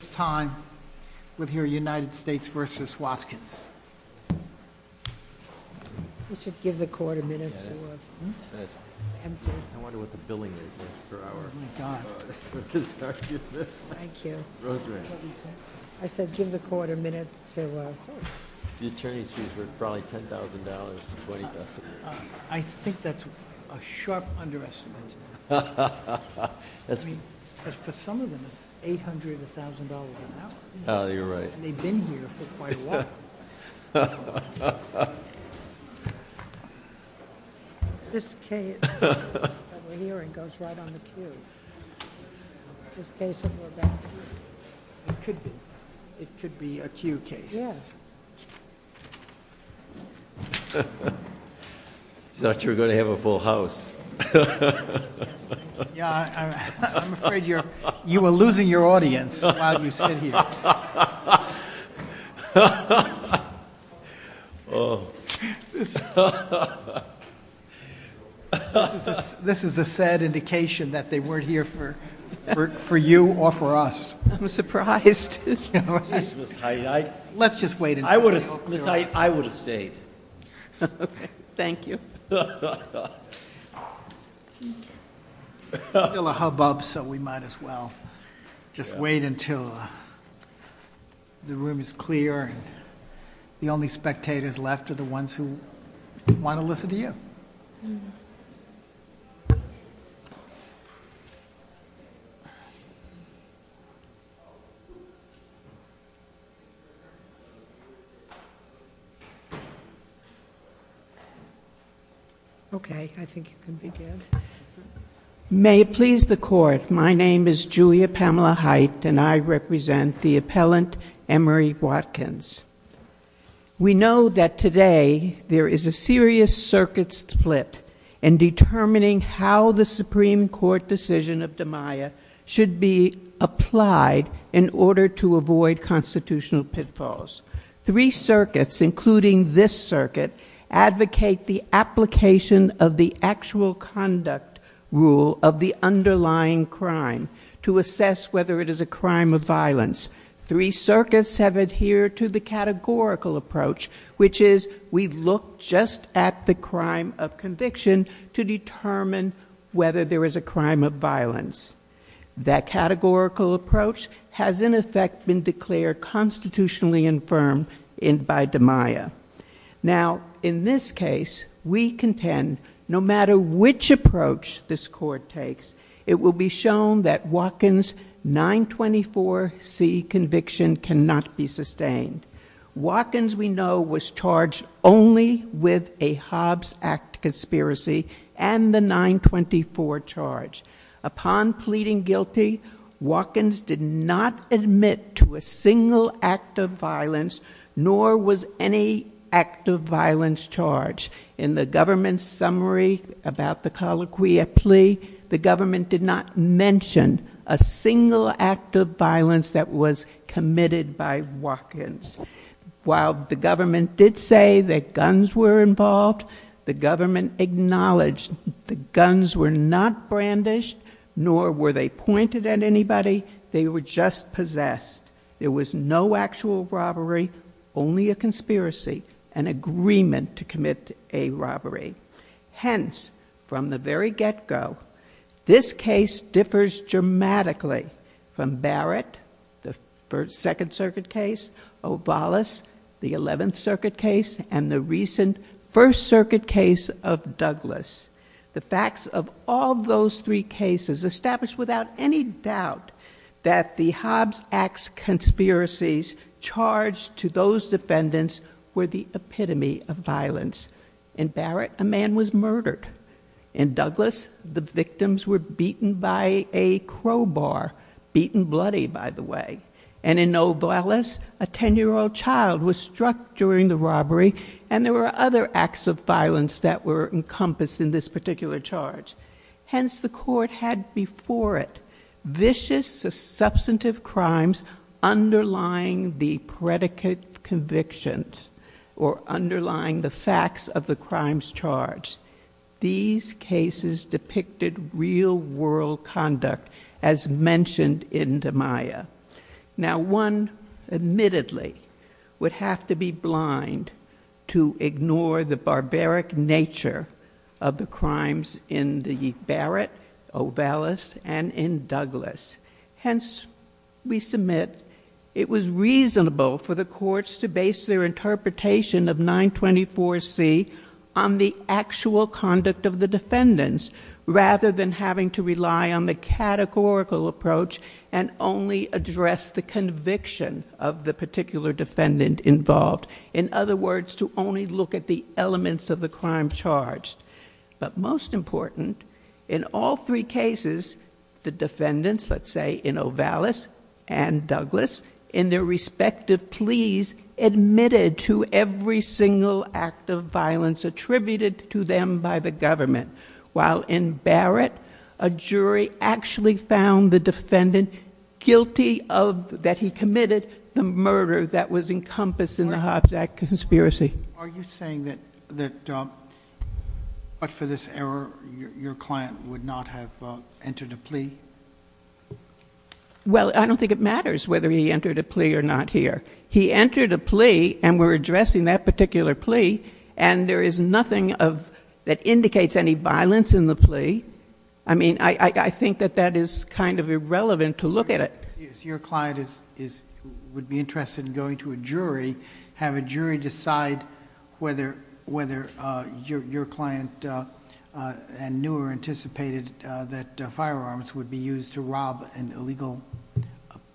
This time, we'll hear United States v. Watkins. You should give the court a minute to empty. I wonder what the billing rate is per hour. Thank you. Rosemary. I said give the court a minute to empty. The attorney's fees were probably $10,000 to $20,000. I think that's a sharp underestimate. I mean, for some of them, it's $800,000 an hour. Oh, you're right. And they've been here for quite a while. This case that we're hearing goes right on the queue. This case that we're about to hear, it could be a queue case. Yes. I thought you were going to have a full house. I'm afraid you are losing your audience while you sit here. This is a sad indication that they weren't here for you or for us. I'm surprised. Let's just wait. I would have stayed. Okay. Thank you. Still a hubbub, so we might as well just wait until the room is clear and the only spectators left are the ones who want to listen to you. Okay. I think you can begin. May it please the court, my name is Julia Pamela Hite and I represent the appellant, Emery Watkins. We know that today there is a serious circuit split in determining how the Supreme Court decision of Damiah should be applied in order to win the case. To avoid constitutional pitfalls. Three circuits, including this circuit, advocate the application of the actual conduct rule of the underlying crime to assess whether it is a crime of violence. Three circuits have adhered to the categorical approach, which is we look just at the crime of conviction to determine whether there is a crime of violence. That categorical approach has, in effect, been declared constitutionally infirm by Damiah. Now, in this case, we contend no matter which approach this court takes, it will be shown that Watkins' 924C conviction cannot be sustained. Watkins, we know, was charged only with a Hobbs Act conspiracy and the 924 charge. Upon pleading guilty, Watkins did not admit to a single act of violence, nor was any act of violence charged. In the government's summary about the colloquia plea, the government did not mention a single act of violence that was committed by Watkins. While the government did say that guns were involved, the government acknowledged the guns were not brandished, nor were they pointed at anybody. They were just possessed. There was no actual robbery, only a conspiracy, an agreement to commit a robbery. Hence, from the very get-go, this case differs dramatically from Barrett, the Second Circuit case, Ovallis, the Eleventh Circuit case, and the recent First Circuit case of Douglas. The facts of all those three cases establish without any doubt that the Hobbs Act conspiracies charged to those defendants were the epitome of violence. In Barrett, a man was murdered. In Douglas, the victims were beaten by a crowbar, beaten bloody, by the way. And in Ovallis, a 10-year-old child was struck during the robbery, and there were other acts of violence that were encompassed in this particular charge. Hence, the court had before it vicious, substantive crimes underlying the predicate convictions or underlying the facts of the crimes charged. These cases depicted real-world conduct, as mentioned in DiMaia. Now, one admittedly would have to be blind to ignore the barbaric nature of the crimes in the Barrett, Ovallis, and in Douglas. Hence, we submit it was reasonable for the courts to base their interpretation of 924C on the actual conduct of the defendants rather than having to rely on the categorical approach and only address the conviction of the particular defendant involved. In other words, to only look at the elements of the crime charged. But most important, in all three cases, the defendants, let's say in Ovallis and Douglas, in their respective pleas admitted to every single act of violence attributed to them by the government. While in Barrett, a jury actually found the defendant guilty that he committed the murder that was encompassed in the Hobbs Act conspiracy. Are you saying that, but for this error, your client would not have entered a plea? Well, I don't think it matters whether he entered a plea or not here. He entered a plea, and we're addressing that particular plea, and there is nothing that indicates any violence in the plea. I mean, I think that that is kind of irrelevant to look at it. Your client would be interested in going to a jury, have a jury decide whether your client knew or anticipated that firearms would be used to rob an illegal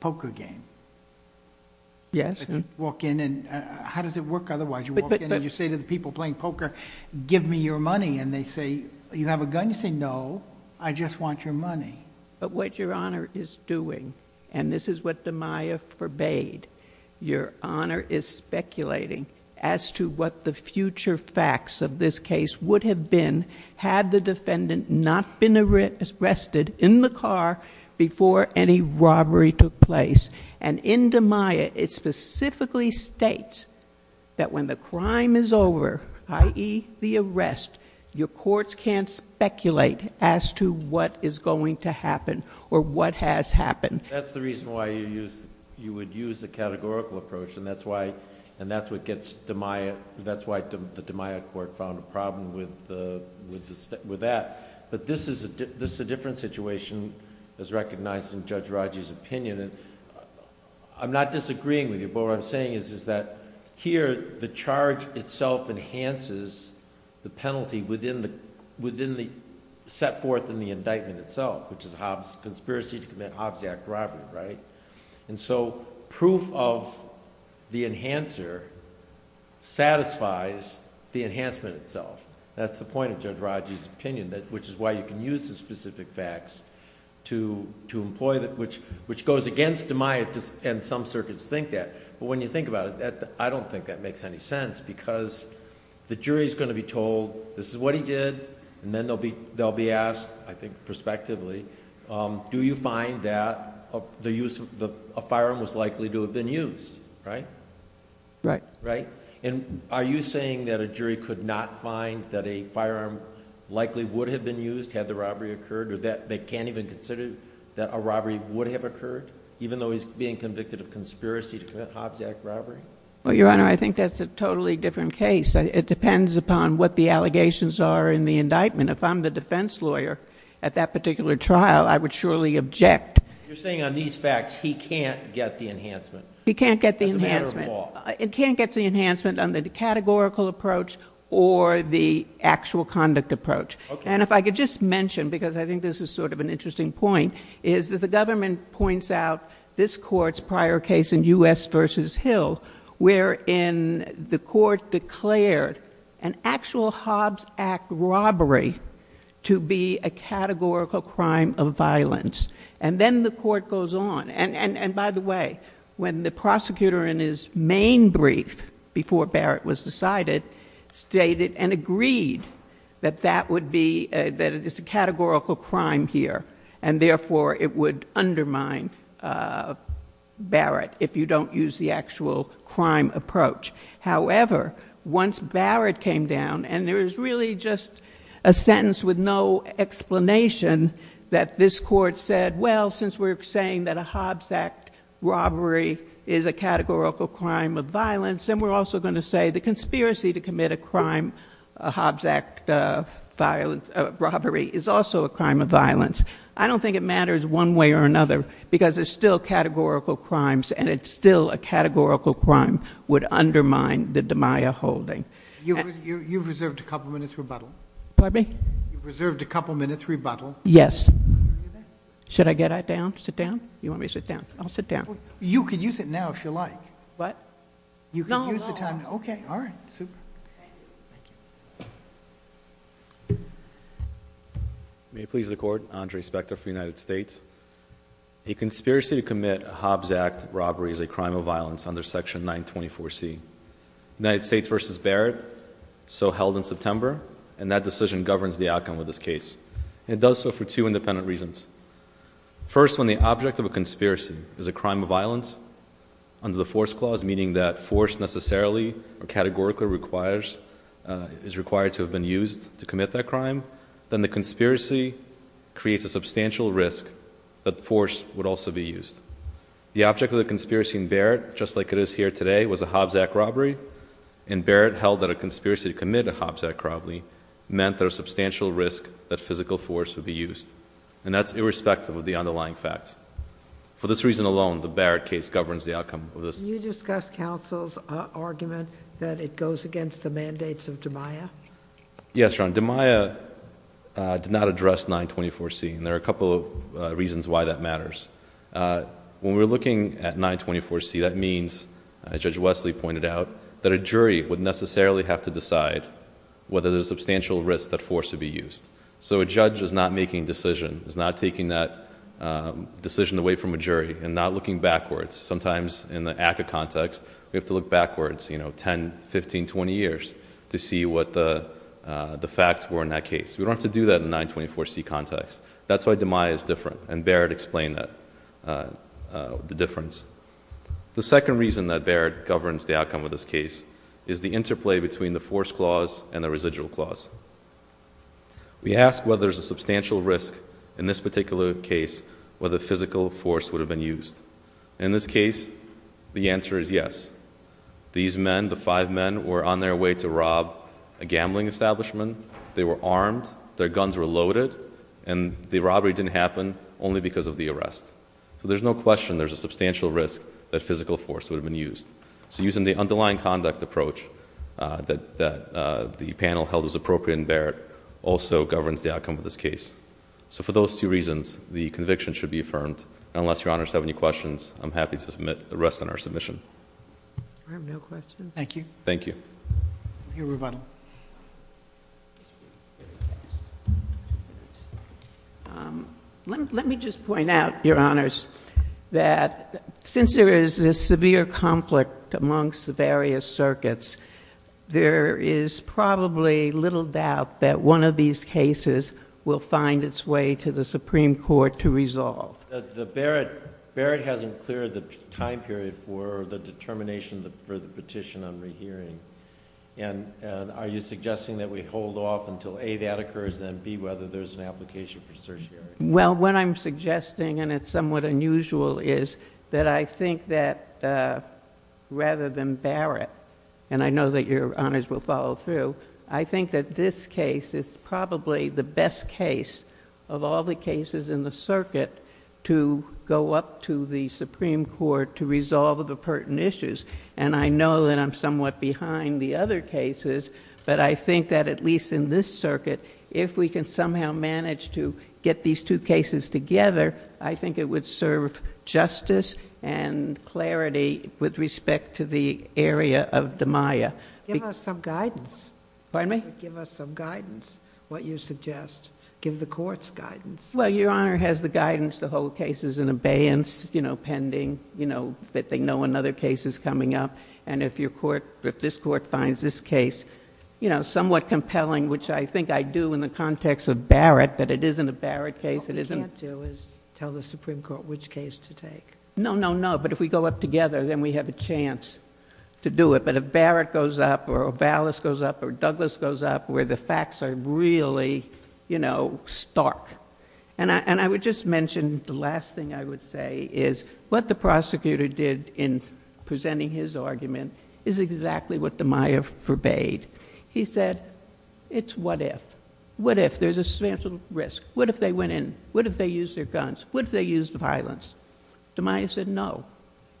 poker game. Yes. Walk in and... how does it work otherwise? You walk in and you say to the people playing poker, give me your money, and they say... you have a gun. You say, no, I just want your money. But what Your Honor is doing, and this is what Damiah forbade, Your Honor is speculating as to what the future facts of this case would have been had the defendant not been arrested in the car before any robbery took place. In Damiah, it specifically states that when the crime is over, i.e., the arrest, your courts can't speculate as to what is going to happen or what has happened. That's the reason why you would use the categorical approach, and that's why the Damiah court found a problem with that. But this is a different situation as recognized in Judge Raji's opinion. I'm not disagreeing with you, but what I'm saying is that here, the charge itself enhances the penalty set forth in the indictment itself, which is the conspiracy to commit Hobbs Act robbery. Proof of the enhancer satisfies the enhancement itself. That's the point of Judge Raji's opinion, which is why you can use the specific facts to employ... which goes against Damiah, and some circuits think that. When you think about it, I don't think that makes any sense, because the jury is going to be told this is what he did, and then they'll be asked, I think prospectively, do you find that a firearm was likely to have been used? Right? Right. And are you saying that a jury could not find that a firearm likely would have been used had the robbery occurred, or that they can't even consider that a robbery would have occurred, even though he's being convicted of conspiracy to commit Hobbs Act robbery? Well, Your Honor, I think that's a totally different case. It depends upon what the allegations are in the indictment. If I'm the defense lawyer at that particular trial, I would surely object. You're saying on these facts he can't get the enhancement. He can't get the enhancement. As a matter of law. He can't get the enhancement on the categorical approach or the actual conduct approach. Okay. And if I could just mention, because I think this is sort of an interesting point, is that the government points out this Court's prior case in U.S. v. Hill, wherein the Court declared an actual Hobbs Act robbery to be a categorical crime of violence. And then the Court goes on. And, by the way, when the prosecutor in his main brief before Barrett was decided, stated and agreed that that would be, that it is a categorical crime here, and, therefore, it would undermine Barrett if you don't use the actual crime approach. However, once Barrett came down, and there is really just a sentence with no explanation that this Court said, well, since we're saying that a Hobbs Act robbery is a categorical crime of violence, then we're also going to say the conspiracy to commit a crime, a Hobbs Act robbery, is also a crime of violence. I don't think it matters one way or another, because it's still categorical crimes, and it's still a categorical crime would undermine the DiMaio holding. You've reserved a couple minutes' rebuttal. Pardon me? You've reserved a couple minutes' rebuttal. Yes. Should I get down? Sit down? You want me to sit down? I'll sit down. You can use it now if you like. What? You can use the time. No, no. Okay. All right. Super. Thank you. May it please the Court, Andre Spector for the United States. A conspiracy to commit a Hobbs Act robbery is a crime of violence under Section 924C. The United States v. Barrett so held in September, and that decision governs the outcome of this case, and it does so for two independent reasons. First, when the object of a conspiracy is a crime of violence, under the force clause, meaning that force necessarily or categorically is required to have been used to commit that crime, then the conspiracy creates a substantial risk that force would also be used. The object of the conspiracy in Barrett, just like it is here today, was a Hobbs Act robbery, and Barrett held that a conspiracy to commit a Hobbs Act robbery meant there was substantial risk that physical force would be used, and that's irrespective of the underlying facts. For this reason alone, the Barrett case governs the outcome of this. Can you discuss counsel's argument that it goes against the mandates of DiMaia? Yes, Your Honor. DiMaia did not address 924C, and there are a couple of reasons why that matters. When we're looking at 924C, that means, as Judge Wesley pointed out, that a jury would necessarily have to decide whether there's substantial risk that force would be used. So a judge is not making a decision, is not taking that decision away from a jury and not looking backwards. Sometimes in the ACCA context, we have to look backwards, you know, 10, 15, 20 years to see what the facts were in that case. We don't have to do that in the 924C context. That's why DiMaia is different, and Barrett explained the difference. The second reason that Barrett governs the outcome of this case is the interplay between the force clause and the residual clause. We ask whether there's a substantial risk in this particular case whether physical force would have been used. In this case, the answer is yes. These men, the five men, were on their way to rob a gambling establishment. They were armed, their guns were loaded, and the robbery didn't happen only because of the arrest. So there's no question there's a substantial risk that physical force would have been used. So using the underlying conduct approach that the panel held was appropriate in Barrett also governs the outcome of this case. So for those two reasons, the conviction should be affirmed. Unless Your Honor has any questions, I'm happy to rest on our submission. I have no questions. Thank you. Thank you. We'll hear rebuttal. Let me just point out, Your Honors, that since there is this severe conflict amongst the various circuits, there is probably little doubt that one of these cases will find its way to the Supreme Court to resolve. Barrett hasn't cleared the time period for the determination for the petition on rehearing. Are you suggesting that we hold off until, A, that occurs, and, B, whether there's an application for certiorari? Well, what I'm suggesting, and it's somewhat unusual, is that I think that rather than Barrett, and I know that Your Honors will follow through, I think that this case is probably the best case of all the cases in the circuit to go up to the Supreme Court to resolve the pertinent issues. And I know that I'm somewhat behind the other cases, but I think that at least in this circuit, if we can somehow manage to get these two cases together, I think it would serve justice and clarity with respect to the area of DiMaia. Give us some guidance. Pardon me? Give us some guidance, what you suggest. Give the courts guidance. Well, Your Honor has the guidance to hold cases in abeyance, you know, pending, you know, that they know another case is coming up. And if this court finds this case, you know, somewhat compelling, which I think I do in the context of Barrett, that it isn't a Barrett case. What we can't do is tell the Supreme Court which case to take. No, no, no. But if we go up together, then we have a chance to do it. But if Barrett goes up or Vallis goes up or Douglas goes up, where the facts are really, you know, stark. And I would just mention the last thing I would say is what the prosecutor did in presenting his argument is exactly what DiMaia forbade. He said, it's what if. What if there's a substantial risk? What if they went in? What if they used their guns? What if they used violence? DiMaia said, no,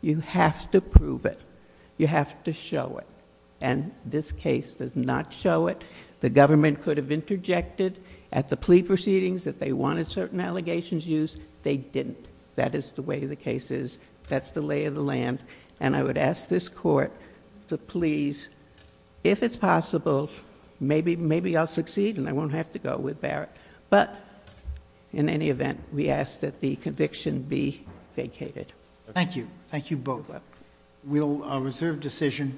you have to prove it. You have to show it. And this case does not show it. The government could have interjected at the plea proceedings that they wanted certain allegations used. They didn't. That is the way the case is. That's the lay of the land. And I would ask this court to please, if it's possible, maybe I'll succeed and I won't have to go with Barrett. But in any event, we ask that the conviction be vacated. Thank you. Thank you both. We'll reserve decision.